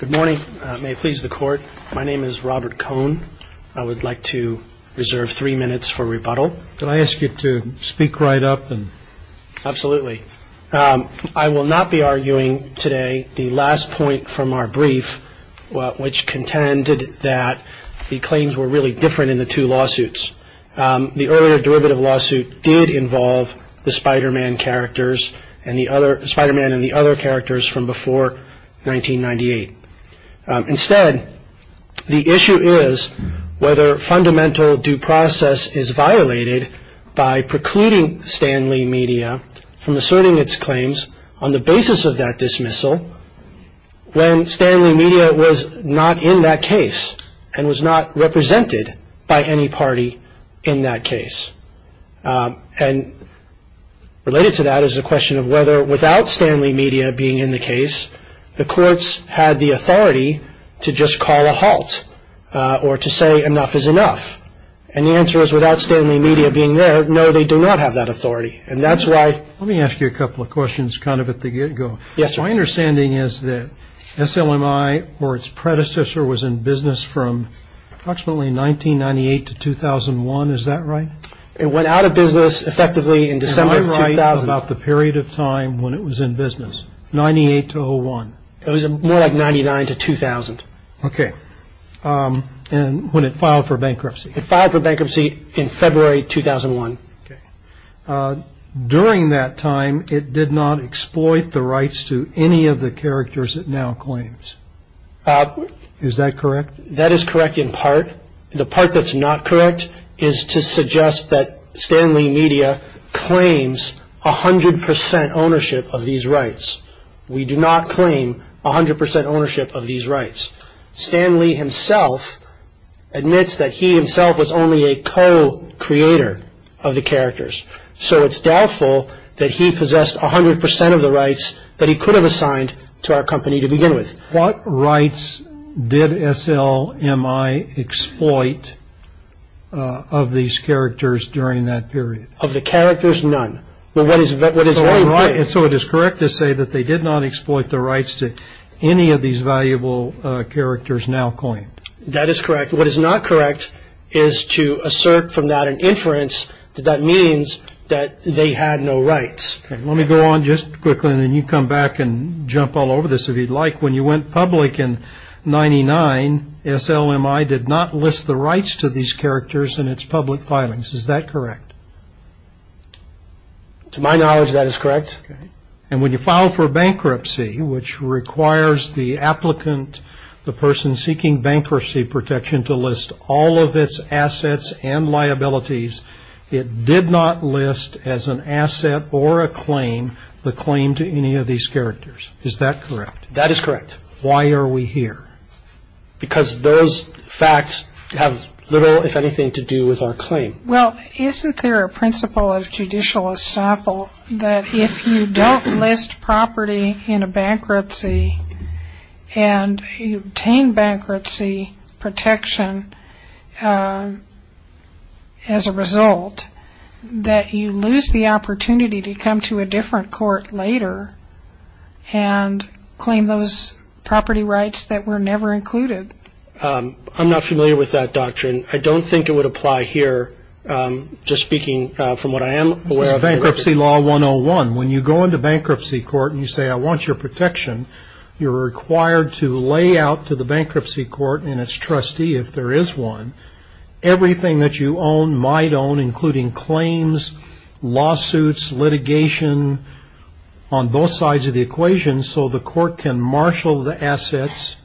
Good morning. May it please the court. My name is Robert Cohn. I would like to reserve three minutes for rebuttal. Can I ask you to speak right up? Absolutely. I will not be arguing today the last point from our brief, which contended that the claims were really different in the two lawsuits. The earlier derivative lawsuit did involve the Spider-Man characters and the other, Spider-Man and the other characters from before 1998. Instead, the issue is whether fundamental due process is violated by precluding Stan Lee Media from asserting its claims on the basis of that dismissal when Stan Lee Media was not in that case and was not represented by any party in that case. And related to that is the question of whether without Stan Lee Media being in the case, the courts had the authority to just call a halt or to say enough is enough. And the answer is without Stan Lee Media being there, no, they do not have that authority. Let me ask you a couple of questions kind of at the get-go. Yes, sir. My understanding is that SLMI or its predecessor was in business from approximately 1998 to 2001. Is that right? It went out of business effectively in December of 2000. Am I right about the period of time when it was in business, 98 to 01? It was more like 99 to 2000. Okay. And when it filed for bankruptcy? It filed for bankruptcy in February 2001. During that time, it did not exploit the rights to any of the characters it now claims. Is that correct? That is correct in part. The part that's not correct is to suggest that Stan Lee Media claims 100 percent ownership of these rights. We do not claim 100 percent ownership of these rights. Stan Lee himself admits that he himself was only a co-creator of the characters. So it's doubtful that he possessed 100 percent of the rights that he could have assigned to our company to begin with. What rights did SLMI exploit of these characters during that period? Of the characters, none. So it is correct to say that they did not exploit the rights to any of these valuable characters now coined? That is correct. What is not correct is to assert from that an inference that that means that they had no rights. Let me go on just quickly, and then you come back and jump all over this if you'd like. When you went public in 99, SLMI did not list the rights to these characters in its public filings. Is that correct? To my knowledge, that is correct. And when you file for bankruptcy, which requires the applicant, the person seeking bankruptcy protection to list all of its assets and liabilities, it did not list as an asset or a claim the claim to any of these characters. Is that correct? That is correct. Why are we here? Because those facts have little, if anything, to do with our claim. Well, isn't there a principle of judicial estoppel that if you don't list property in a bankruptcy and you obtain bankruptcy protection as a result, that you lose the opportunity to come to a different court later and claim those property rights that were never included? I'm not familiar with that doctrine. I don't think it would apply here. Just speaking from what I am aware of. Bankruptcy law 101. When you go into bankruptcy court and you say, I want your protection, you're required to lay out to the bankruptcy court and its trustee, if there is one, everything that you own, might own, including claims, lawsuits, litigation, on both sides of the equation so the court can marshal the assets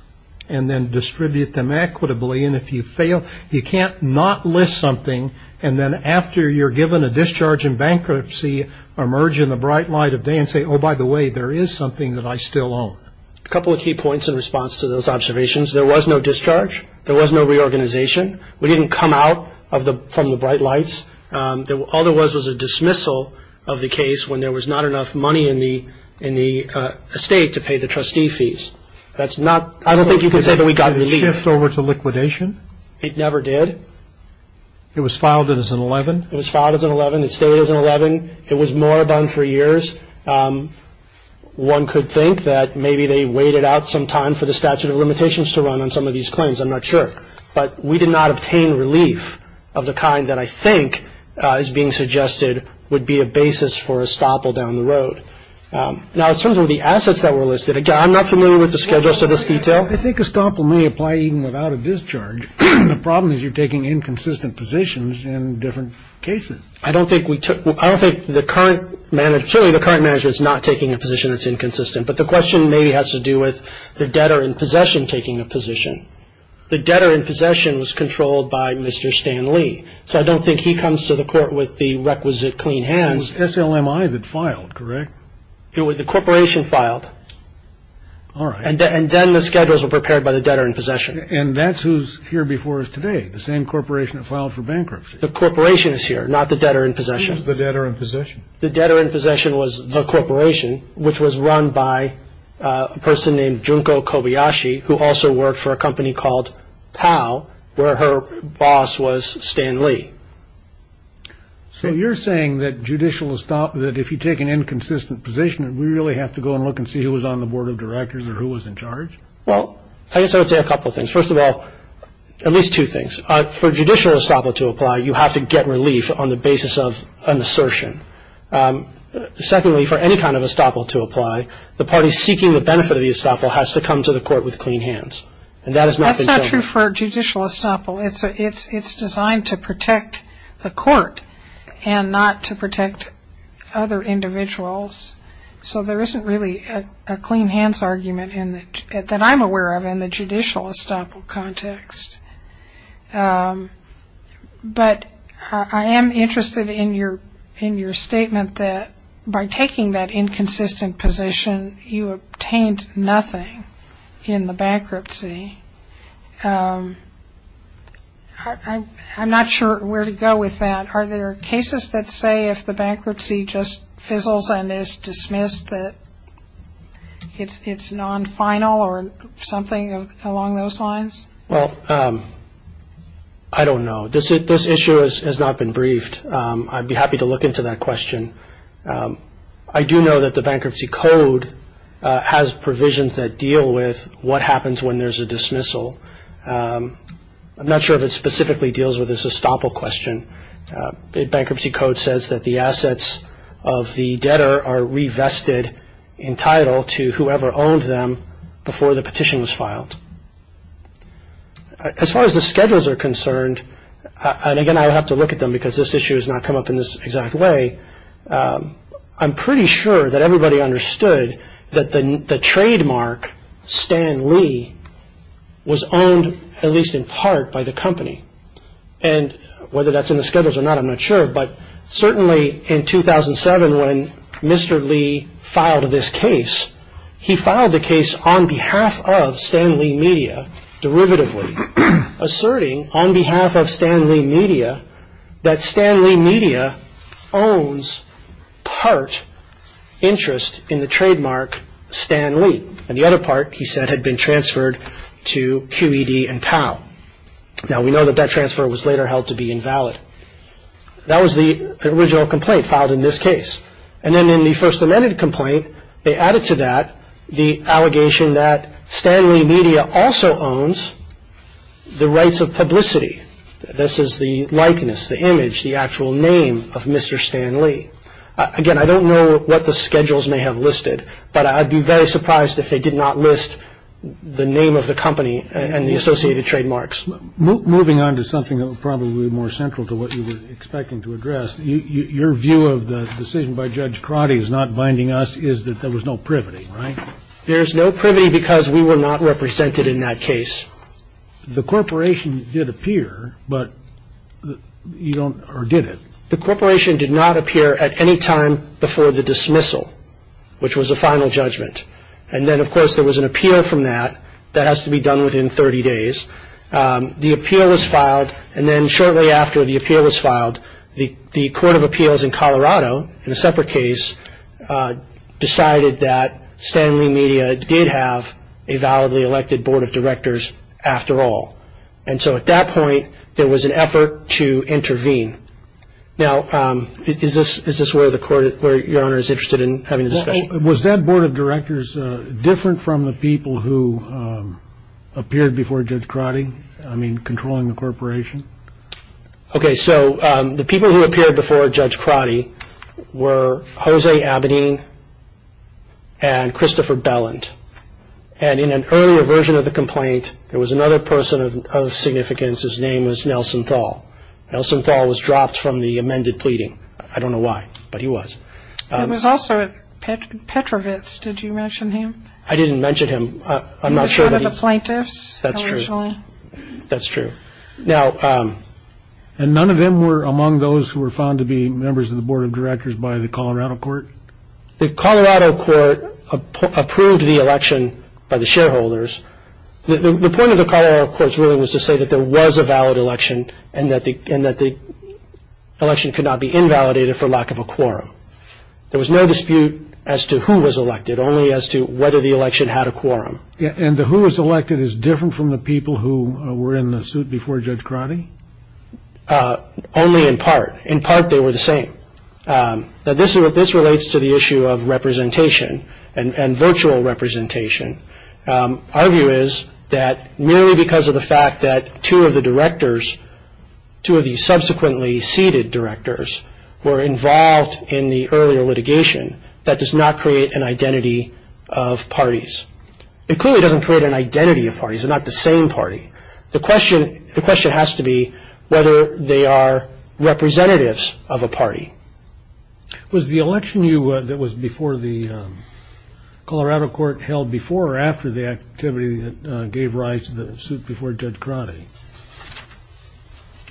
and then distribute them equitably. And if you fail, you can't not list something and then after you're given a discharge in bankruptcy, emerge in the bright light of day and say, oh, by the way, there is something that I still own. A couple of key points in response to those observations. There was no discharge. There was no reorganization. We didn't come out from the bright lights. All there was was a dismissal of the case when there was not enough money in the estate to pay the trustee fees. I don't think you can say, but we got relief. Did it shift over to liquidation? It never did. It was filed as an 11? It was filed as an 11. It stayed as an 11. It was moribund for years. One could think that maybe they waited out some time for the statute of limitations to run on some of these claims. I'm not sure. But we did not obtain relief of the kind that I think is being suggested would be a basis for estoppel down the road. Now, in terms of the assets that were listed, again, I'm not familiar with the schedules to this detail. I think estoppel may apply even without a discharge. The problem is you're taking inconsistent positions in different cases. I don't think we took – I don't think the current – certainly the current management is not taking a position that's inconsistent. But the question maybe has to do with the debtor in possession taking a position. The debtor in possession was controlled by Mr. Stan Lee. So I don't think he comes to the court with the requisite clean hands. It was SLMI that filed, correct? The corporation filed. All right. And then the schedules were prepared by the debtor in possession. And that's who's here before us today, the same corporation that filed for bankruptcy. The corporation is here, not the debtor in possession. Who's the debtor in possession? The debtor in possession was the corporation, which was run by a person named Junko Kobayashi, who also worked for a company called POW, where her boss was Stan Lee. So you're saying that judicial estoppel, that if you take an inconsistent position, we really have to go and look and see who was on the board of directors or who was in charge? Well, I guess I would say a couple things. First of all, at least two things. For judicial estoppel to apply, you have to get relief on the basis of an assertion. Secondly, for any kind of estoppel to apply, the party seeking the benefit of the estoppel has to come to the court with clean hands. And that has not been shown. That's not true for judicial estoppel. It's designed to protect the court and not to protect other individuals. So there isn't really a clean hands argument that I'm aware of in the judicial estoppel context. But I am interested in your statement that by taking that inconsistent position, you obtained nothing in the bankruptcy. I'm not sure where to go with that. Are there cases that say if the bankruptcy just fizzles and is dismissed that it's non-final or something along those lines? Well, I don't know. This issue has not been briefed. I'd be happy to look into that question. I do know that the Bankruptcy Code has provisions that deal with what happens when there's a dismissal. I'm not sure if it specifically deals with this estoppel question. The Bankruptcy Code says that the assets of the debtor are re-vested in title to whoever owned them before the petition was filed. As far as the schedules are concerned, and again I'll have to look at them because this issue has not come up in this exact way, I'm pretty sure that everybody understood that the trademark, Stan Lee, was owned at least in part by the company. And whether that's in the schedules or not, I'm not sure, but certainly in 2007 when Mr. Lee filed this case, he filed the case on behalf of Stan Lee Media derivatively, asserting on behalf of Stan Lee Media that Stan Lee Media owns part interest in the trademark Stan Lee. And the other part, he said, had been transferred to QED and POW. Now we know that that transfer was later held to be invalid. That was the original complaint filed in this case. And then in the first amended complaint, they added to that the allegation that Stan Lee Media also owns the rights of publicity. This is the likeness, the image, the actual name of Mr. Stan Lee. Again, I don't know what the schedules may have listed, but I'd be very surprised if they did not list the name of the company and the associated trademarks. Moving on to something that was probably more central to what you were expecting to address, your view of the decision by Judge Crotty as not binding us is that there was no privity, right? There is no privity because we were not represented in that case. The corporation did appear, but you don't, or did it? The corporation did not appear at any time before the dismissal, which was the final judgment. And then, of course, there was an appeal from that. That has to be done within 30 days. The appeal was filed, and then shortly after the appeal was filed, the Court of Appeals in Colorado, in a separate case, decided that Stan Lee Media did have a validly elected board of directors after all. And so at that point, there was an effort to intervene. Now, is this where your Honor is interested in having a discussion? Was that board of directors different from the people who appeared before Judge Crotty? I mean, controlling the corporation? Okay, so the people who appeared before Judge Crotty were Jose Abedin and Christopher Belland. And in an earlier version of the complaint, there was another person of significance. His name was Nelson Thal. Nelson Thal was dropped from the amended pleading. I don't know why, but he was. There was also Petrovitz. Did you mention him? I didn't mention him. He was one of the plaintiffs originally? That's true. That's true. And none of them were among those who were found to be members of the board of directors by the Colorado court? The Colorado court approved the election by the shareholders. The point of the Colorado court's ruling was to say that there was a valid election and that the election could not be invalidated for lack of a quorum. There was no dispute as to who was elected, only as to whether the election had a quorum. And who was elected is different from the people who were in the suit before Judge Crotty? Only in part. In part, they were the same. Now, this relates to the issue of representation and virtual representation. Our view is that merely because of the fact that two of the directors, two of the subsequently seated directors were involved in the earlier litigation, that does not create an identity of parties. It clearly doesn't create an identity of parties. They're not the same party. The question has to be whether they are representatives of a party. Was the election that was before the Colorado court held before or after the activity that gave rise to the suit before Judge Crotty?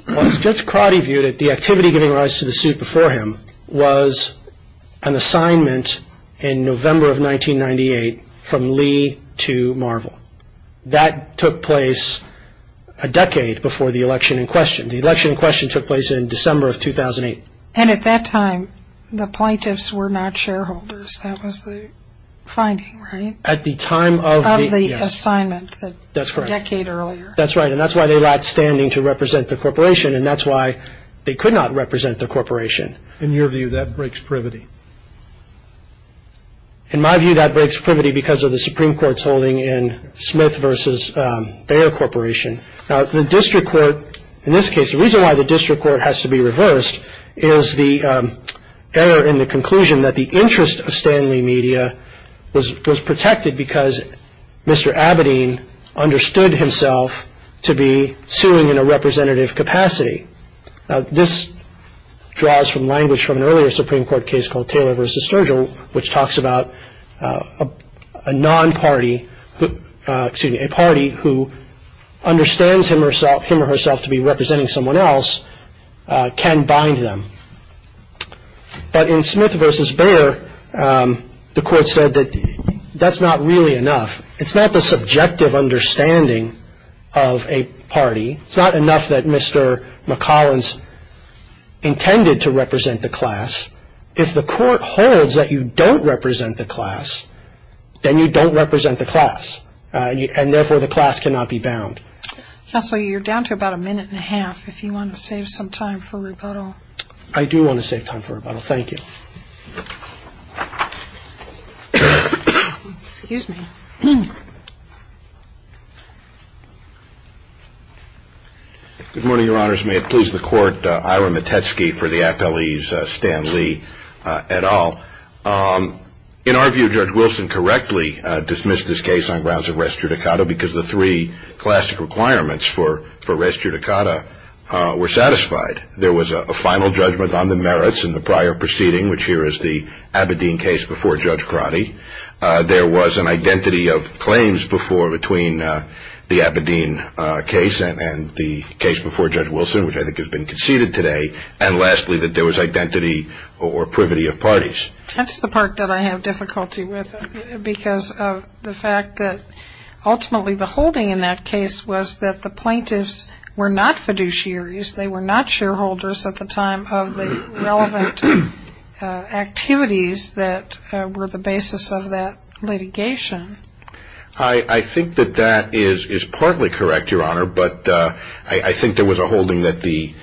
As Judge Crotty viewed it, the activity giving rise to the suit before him was an assignment in November of 1998 from Lee to Marvel. That took place a decade before the election in question. The election in question took place in December of 2008. And at that time, the plaintiffs were not shareholders. That was the finding, right? At the time of the assignment. That's correct. A decade earlier. That's right, and that's why they lacked standing to represent the corporation, and that's why they could not represent the corporation. In your view, that breaks privity. In my view, that breaks privity because of the Supreme Court's holding in Smith v. Bayer Corporation. Now, the district court in this case, the reason why the district court has to be reversed is the error in the conclusion that the interest of Stanley Media was protected because Mr. Abedin understood himself to be suing in a representative capacity. Now, this draws from language from an earlier Supreme Court case called Taylor v. Sturgill, which talks about a non-party, excuse me, a party who understands him or herself to be representing someone else can bind them. But in Smith v. Bayer, the court said that that's not really enough. It's not the subjective understanding of a party. It's not enough that Mr. McCollins intended to represent the class. If the court holds that you don't represent the class, then you don't represent the class, and therefore the class cannot be bound. Counsel, you're down to about a minute and a half if you want to save some time for rebuttal. I do want to save time for rebuttal. Thank you. Excuse me. Good morning, Your Honors. May it please the Court, Ira Metetsky for the affilies, Stan Lee et al. In our view, Judge Wilson correctly dismissed this case on grounds of res judicata because the three classic requirements for res judicata were satisfied. There was a final judgment on the merits in the prior proceeding, which here is the Aberdeen case before Judge Crotty. There was an identity of claims before between the Aberdeen case and the case before Judge Wilson, which I think has been conceded today. And lastly, that there was identity or privity of parties. That's the part that I have difficulty with because of the fact that ultimately the holding in that case was that the plaintiffs were not fiduciaries. They were not shareholders at the time of the relevant activities that were the basis of that litigation. I think that that is partly correct, Your Honor, but I think there was a holding that the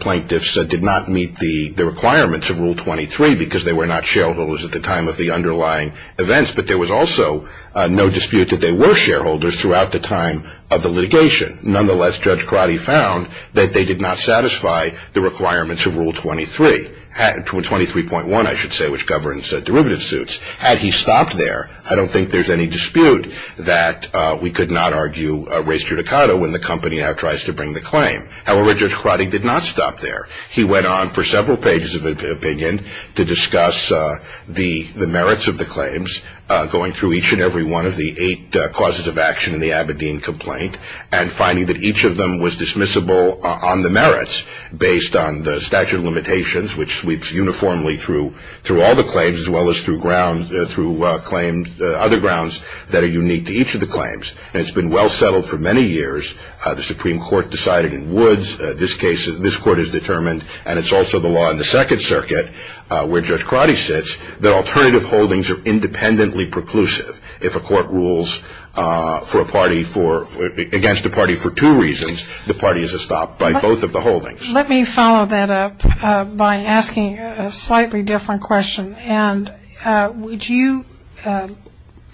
plaintiffs did not meet the requirements of Rule 23 because they were not shareholders at the time of the underlying events. But there was also no dispute that they were shareholders throughout the time of the litigation. Nonetheless, Judge Crotty found that they did not satisfy the requirements of Rule 23, 23.1, I should say, which governs derivative suits. Had he stopped there, I don't think there's any dispute that we could not argue res judicata when the company now tries to bring the claim. However, Judge Crotty did not stop there. He went on for several pages of opinion to discuss the merits of the claims, going through each and every one of the eight causes of action in the Aberdeen complaint, and finding that each of them was dismissible on the merits based on the statute of limitations, which sweeps uniformly through all the claims as well as through other grounds that are unique to each of the claims. And it's been well settled for many years. The Supreme Court decided in Woods this court is determined, and it's also the law in the Second Circuit where Judge Crotty sits, that alternative holdings are independently preclusive. If a court rules against a party for two reasons, the party is stopped by both of the holdings. Let me follow that up by asking a slightly different question. And would you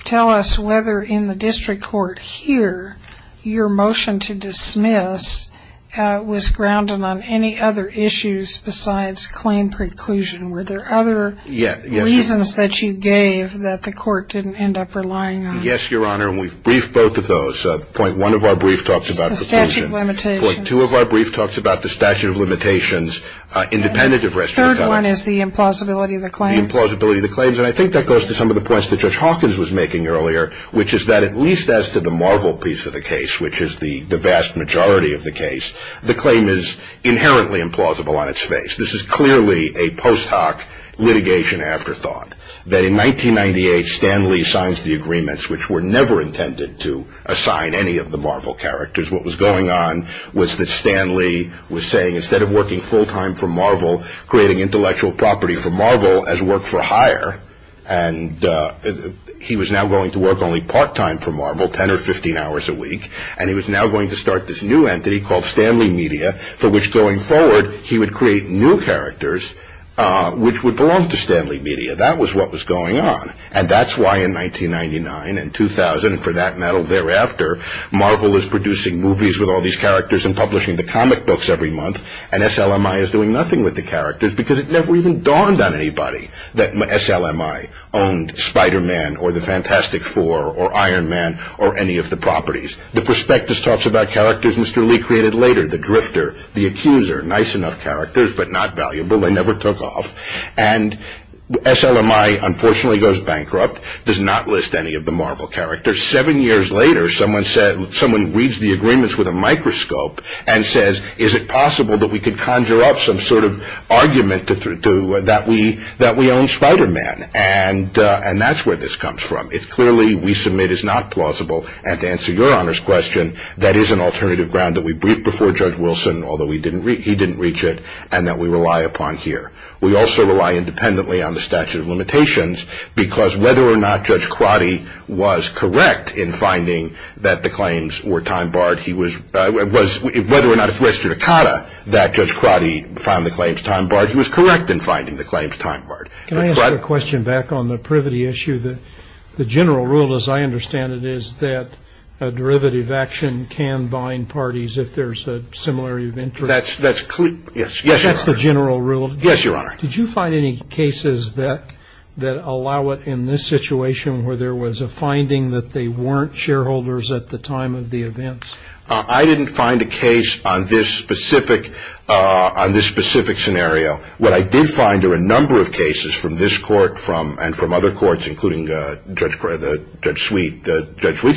tell us whether in the district court here your motion to dismiss was grounded on any other issues besides claim preclusion? Were there other reasons that you gave that the court didn't end up relying on? Yes, Your Honor. And we've briefed both of those. Point one of our brief talks about preclusion. The statute of limitations. Point two of our brief talks about the statute of limitations independent of restitution. And the third one is the implausibility of the claims. The implausibility of the claims. And I think that goes to some of the points that Judge Hawkins was making earlier, which is that at least as to the Marvel piece of the case, which is the vast majority of the case, the claim is inherently implausible on its face. This is clearly a post hoc litigation afterthought. That in 1998, Stan Lee signs the agreements, which were never intended to assign any of the Marvel characters. What was going on was that Stan Lee was saying instead of working full time for Marvel, creating intellectual property for Marvel as work for hire, and he was now going to work only part time for Marvel, 10 or 15 hours a week. And he was now going to start this new entity called Stanley Media, for which going forward he would create new characters which would belong to Stanley Media. That was what was going on. And that's why in 1999 and 2000, and for that matter thereafter, Marvel is producing movies with all these characters and publishing the comic books every month, and SLMI is doing nothing with the characters because it never even dawned on anybody that SLMI owned Spider-Man or the Fantastic Four or Iron Man or any of the properties. The prospectus talks about characters Mr. Lee created later, the drifter, the accuser. Nice enough characters, but not valuable. They never took off. And SLMI unfortunately goes bankrupt, does not list any of the Marvel characters. Seven years later, someone reads the agreements with a microscope and says, is it possible that we could conjure up some sort of argument that we own Spider-Man? And that's where this comes from. It's clearly we submit is not plausible, and to answer your Honor's question, that is an alternative ground that we briefed before Judge Wilson, although he didn't reach it, and that we rely upon here. We also rely independently on the statute of limitations, because whether or not Judge Crotty was correct in finding that the claims were time-barred, whether or not it was restricted to Cotta that Judge Crotty found the claims time-barred, he was correct in finding the claims time-barred. Can I ask a question back on the privity issue? The general rule, as I understand it, is that a derivative action can bind parties if there's a similarity of interest. Yes, Your Honor. That's the general rule? Yes, Your Honor. Did you find any cases that allow it in this situation, where there was a finding that they weren't shareholders at the time of the events? I didn't find a case on this specific scenario. What I did find are a number of cases from this court and from other courts, including Judge Sweet's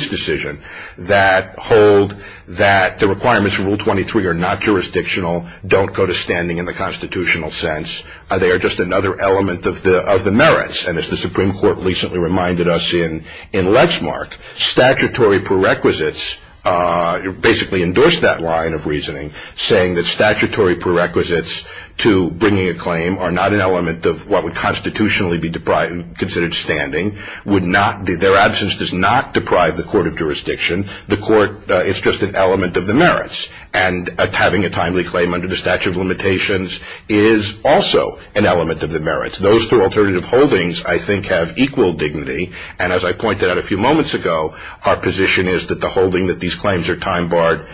decision, that hold that the requirements for Rule 23 are not jurisdictional, don't go to standing in the constitutional sense, they are just another element of the merits. And as the Supreme Court recently reminded us in Letzmark, statutory prerequisites basically endorse that line of reasoning, saying that statutory prerequisites to bringing a claim are not an element of what would constitutionally be considered standing, their absence does not deprive the court of jurisdiction, it's just an element of the merits. And having a timely claim under the statute of limitations is also an element of the merits. Those two alternative holdings, I think, have equal dignity, and as I pointed out a few moments ago, our position is that the holding that these claims are time-barred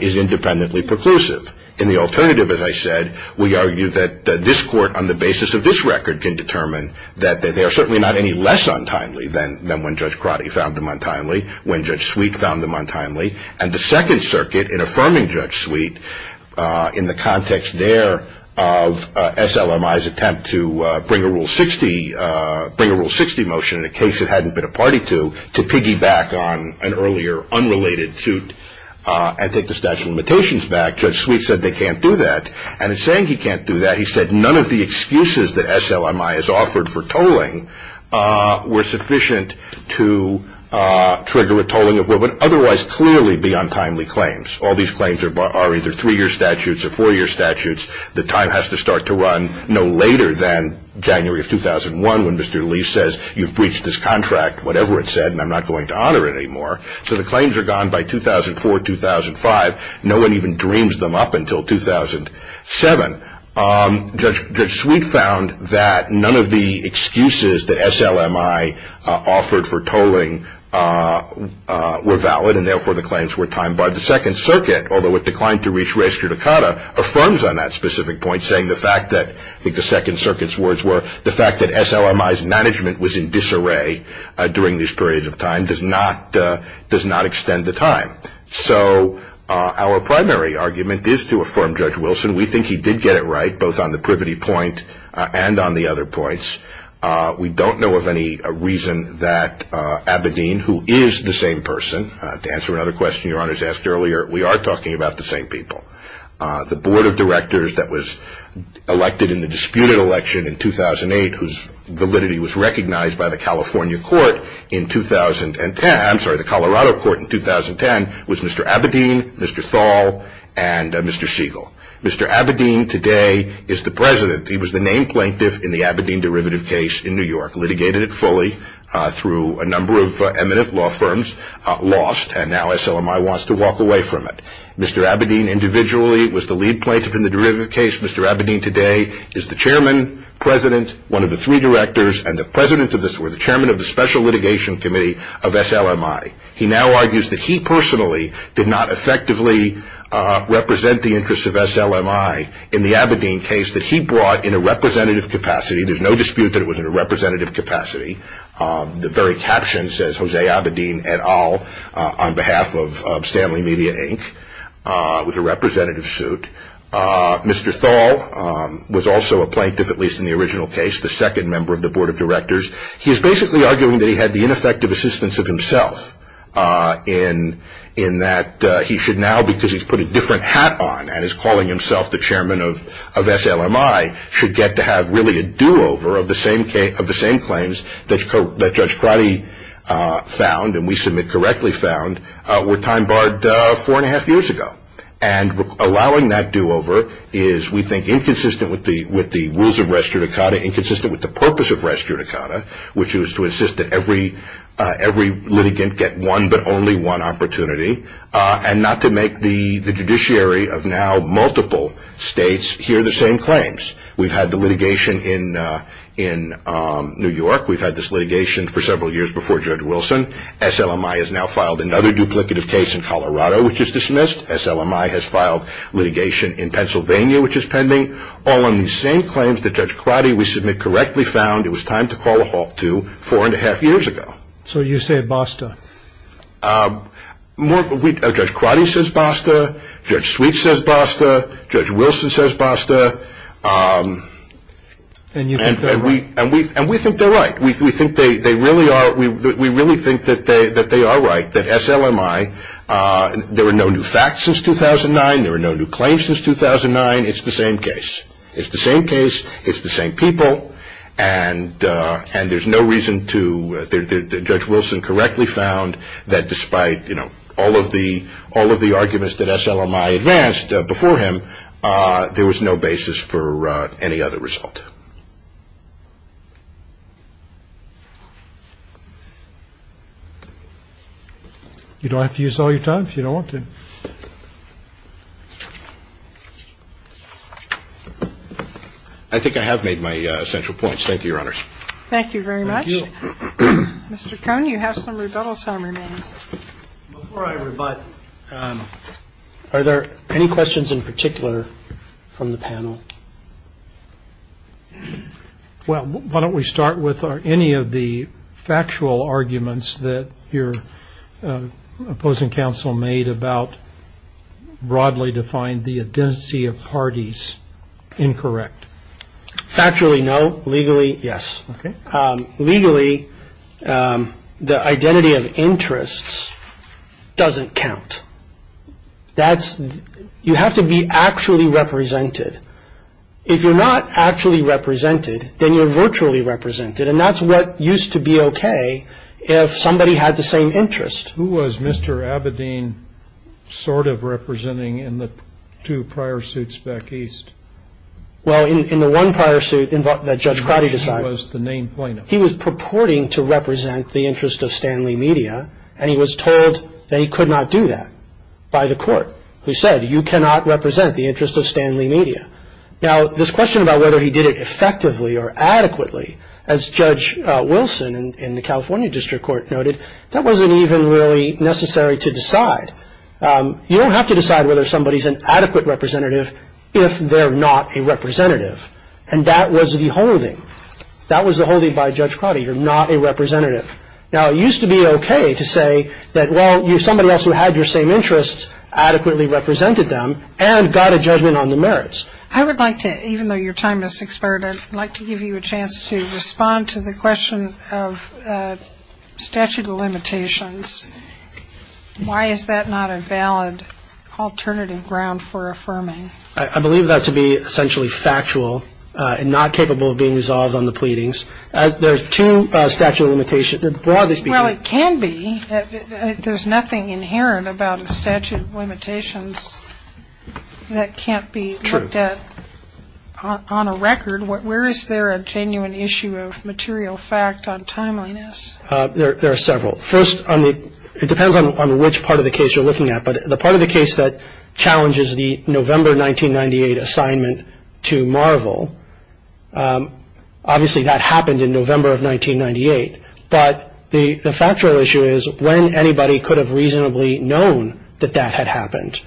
is independently preclusive. In the alternative, as I said, we argue that this court on the basis of this record can determine that they are certainly not any less untimely than when Judge Crotty found them untimely, when Judge Sweet found them untimely. And the Second Circuit, in affirming Judge Sweet, in the context there of SLMI's attempt to bring a Rule 60 motion, in a case it hadn't been a party to, to piggyback on an earlier unrelated suit and take the statute of limitations back, Judge Sweet said they can't do that. And in saying he can't do that, he said none of the excuses that SLMI has offered for tolling were sufficient to trigger a tolling of what would otherwise clearly be untimely claims. All these claims are either three-year statutes or four-year statutes. The time has to start to run no later than January of 2001, when Mr. Lee says you've breached this contract, whatever it said, and I'm not going to honor it anymore. So the claims are gone by 2004, 2005. No one even dreams them up until 2007. Judge Sweet found that none of the excuses that SLMI offered for tolling were valid, and therefore the claims were timed by the Second Circuit, although it declined to reach res judicata, affirms on that specific point, saying the fact that, I think the Second Circuit's words were, the fact that SLMI's management was in disarray during this period of time does not extend the time. So our primary argument is to affirm Judge Wilson. We think he did get it right, both on the privity point and on the other points. We don't know of any reason that Abedin, who is the same person, to answer another question your honors asked earlier, we are talking about the same people. The board of directors that was elected in the disputed election in 2008, whose validity was recognized by the California court in 2010, I'm sorry, the Colorado court in 2010, was Mr. Abedin, Mr. Thal, and Mr. Siegel. Mr. Abedin today is the president. He was the named plaintiff in the Abedin derivative case in New York, litigated it fully through a number of eminent law firms, lost, and now SLMI wants to walk away from it. Mr. Abedin individually was the lead plaintiff in the derivative case. Mr. Abedin today is the chairman, president, one of the three directors, and the president of the special litigation committee of SLMI. He now argues that he personally did not effectively represent the interests of SLMI in the Abedin case that he brought in a representative capacity. There's no dispute that it was in a representative capacity. The very caption says, Jose Abedin et al. on behalf of Stanley Media Inc., with a representative suit. Mr. Thal was also a plaintiff, at least in the original case, the second member of the board of directors. He is basically arguing that he had the ineffective assistance of himself, in that he should now, because he's put a different hat on and is calling himself the chairman of SLMI, should get to have really a do-over of the same claims that Judge Crotty found, and we submit correctly found, were time barred four and a half years ago. And allowing that do-over is, we think, inconsistent with the rules of res judicata, inconsistent with the purpose of res judicata, which is to insist that every litigant get one but only one opportunity, and not to make the judiciary of now multiple states hear the same claims. We've had the litigation in New York. We've had this litigation for several years before Judge Wilson. SLMI has now filed another duplicative case in Colorado, which is dismissed. SLMI has filed litigation in Pennsylvania, which is pending. All in the same claims that Judge Crotty, we submit correctly found, it was time to call a halt to four and a half years ago. So you say basta? Judge Crotty says basta. Judge Sweet says basta. Judge Wilson says basta. And you think they're right? And we think they're right. We think they really are. We really think that they are right, that SLMI, there were no new facts since 2009. There were no new claims since 2009. It's the same case. It's the same case. It's the same people. And there's no reason to – Judge Wilson correctly found that despite, you know, all of the arguments that SLMI advanced before him, there was no basis for any other result. You don't have to use all your time if you don't want to. I think I have made my central points. Thank you, Your Honors. Thank you very much. Thank you. Mr. Cohn, you have some rebuttals to remain. Before I rebut, are there any questions in particular from the panel? Well, why don't we start with any of the factual arguments that your opposing counsel made about broadly defined the identity of parties incorrect? Factually, no. Legally, yes. Okay. Legally, the identity of interests doesn't count. You have to be actually represented. If you're not actually represented, then you're virtually represented, and that's what used to be okay if somebody had the same interest. Who was Mr. Abedin sort of representing in the two prior suits back east? Well, in the one prior suit that Judge Crowdy decided. He was the main plaintiff. He was purporting to represent the interest of Stanley Media, and he was told that he could not do that by the court, who said, you cannot represent the interest of Stanley Media. Now, this question about whether he did it effectively or adequately, as Judge Wilson in the California District Court noted, that wasn't even really necessary to decide. You don't have to decide whether somebody's an adequate representative if they're not a representative, and that was the holding. That was the holding by Judge Crowdy. You're not a representative. Now, it used to be okay to say that, well, somebody else who had your same interests adequately represented them and got a judgment on the merits. I would like to, even though your time has expired, I'd like to give you a chance to respond to the question of statute of limitations. Why is that not a valid alternative ground for affirming? I believe that to be essentially factual and not capable of being resolved on the pleadings. There are two statute of limitations, broadly speaking. Well, it can be. There's nothing inherent about a statute of limitations that can't be looked at on a record. Where is there a genuine issue of material fact on timeliness? There are several. First, it depends on which part of the case you're looking at, but the part of the case that challenges the November 1998 assignment to Marvel, obviously that happened in November of 1998. But the factual issue is when anybody could have reasonably known that that had happened.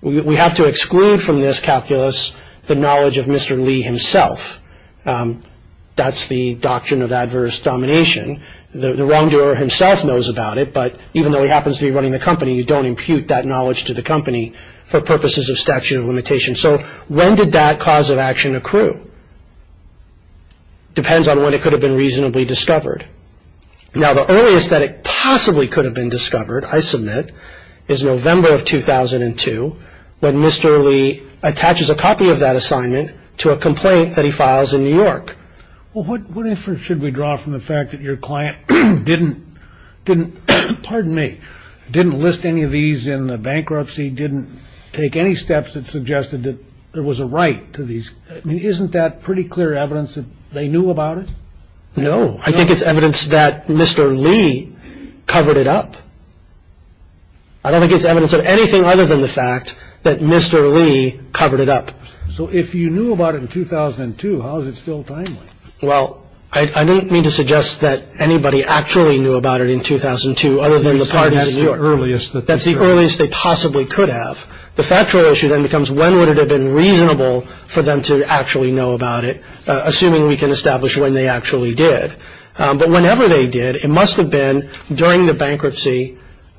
We have to exclude from this calculus the knowledge of Mr. Lee himself. That's the doctrine of adverse domination. The wrongdoer himself knows about it, but even though he happens to be running the company, you don't impute that knowledge to the company for purposes of statute of limitations. So when did that cause of action accrue? Depends on when it could have been reasonably discovered. Now, the earliest that it possibly could have been discovered, I submit, is November of 2002 when Mr. Lee attaches a copy of that assignment to a complaint that he files in New York. Well, what inference should we draw from the fact that your client didn't list any of these in the bankruptcy, didn't take any steps that suggested that there was a right to these? I mean, isn't that pretty clear evidence that they knew about it? No, I think it's evidence that Mr. Lee covered it up. I don't think it's evidence of anything other than the fact that Mr. Lee covered it up. So if you knew about it in 2002, how is it still timely? Well, I didn't mean to suggest that anybody actually knew about it in 2002 other than the parties in New York. That's the earliest that they could have. That's the earliest they possibly could have. The factual issue then becomes when would it have been reasonable for them to actually know about it, assuming we can establish when they actually did. But whenever they did, it must have been during the bankruptcy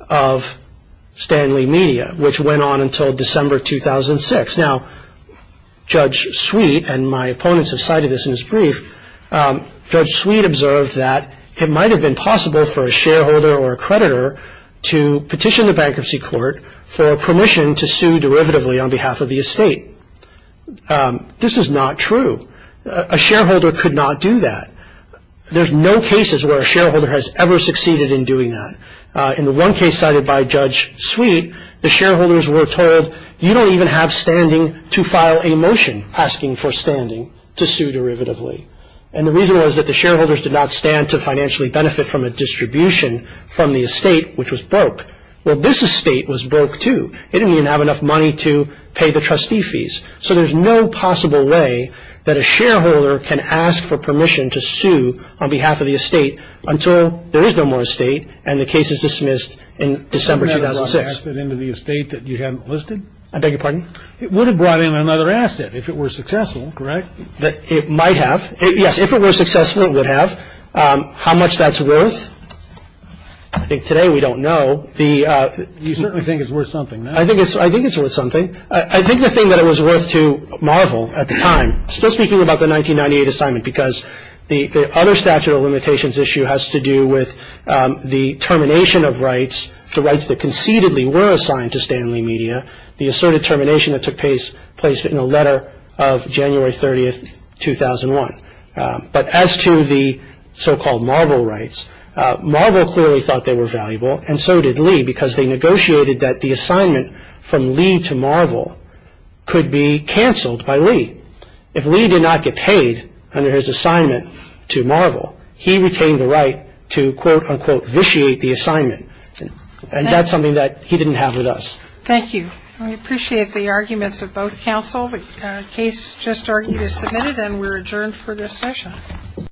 of Stanley Media, which went on until December 2006. Now, Judge Sweet and my opponents have cited this in his brief. Judge Sweet observed that it might have been possible for a shareholder or a creditor to petition the bankruptcy court for permission to sue derivatively on behalf of the estate. This is not true. A shareholder could not do that. There's no cases where a shareholder has ever succeeded in doing that. In the one case cited by Judge Sweet, the shareholders were told, you don't even have standing to file a motion asking for standing to sue derivatively. And the reason was that the shareholders did not stand to financially benefit from a distribution from the estate, which was broke. Well, this estate was broke, too. It didn't even have enough money to pay the trustee fees. So there's no possible way that a shareholder can ask for permission to sue on behalf of the estate until there is no more estate and the case is dismissed in December 2006. Couldn't that have brought an asset into the estate that you haven't listed? I beg your pardon? It would have brought in another asset if it were successful, correct? It might have. Yes, if it were successful, it would have. How much that's worth, I think today we don't know. You certainly think it's worth something. I think it's worth something. I think the thing that it was worth to marvel at the time, speaking about the 1998 assignment because the other statute of limitations issue has to do with the termination of rights, the rights that concededly were assigned to Stanley Media, the asserted termination that took place in a letter of January 30, 2001. But as to the so-called marvel rights, marvel clearly thought they were valuable and so did Lee because they negotiated that the assignment from Lee to marvel could be canceled by Lee. If Lee did not get paid under his assignment to marvel, he retained the right to, quote, unquote, vitiate the assignment. And that's something that he didn't have with us. Thank you. We appreciate the arguments of both counsel. The case just argued is submitted and we're adjourned for this session.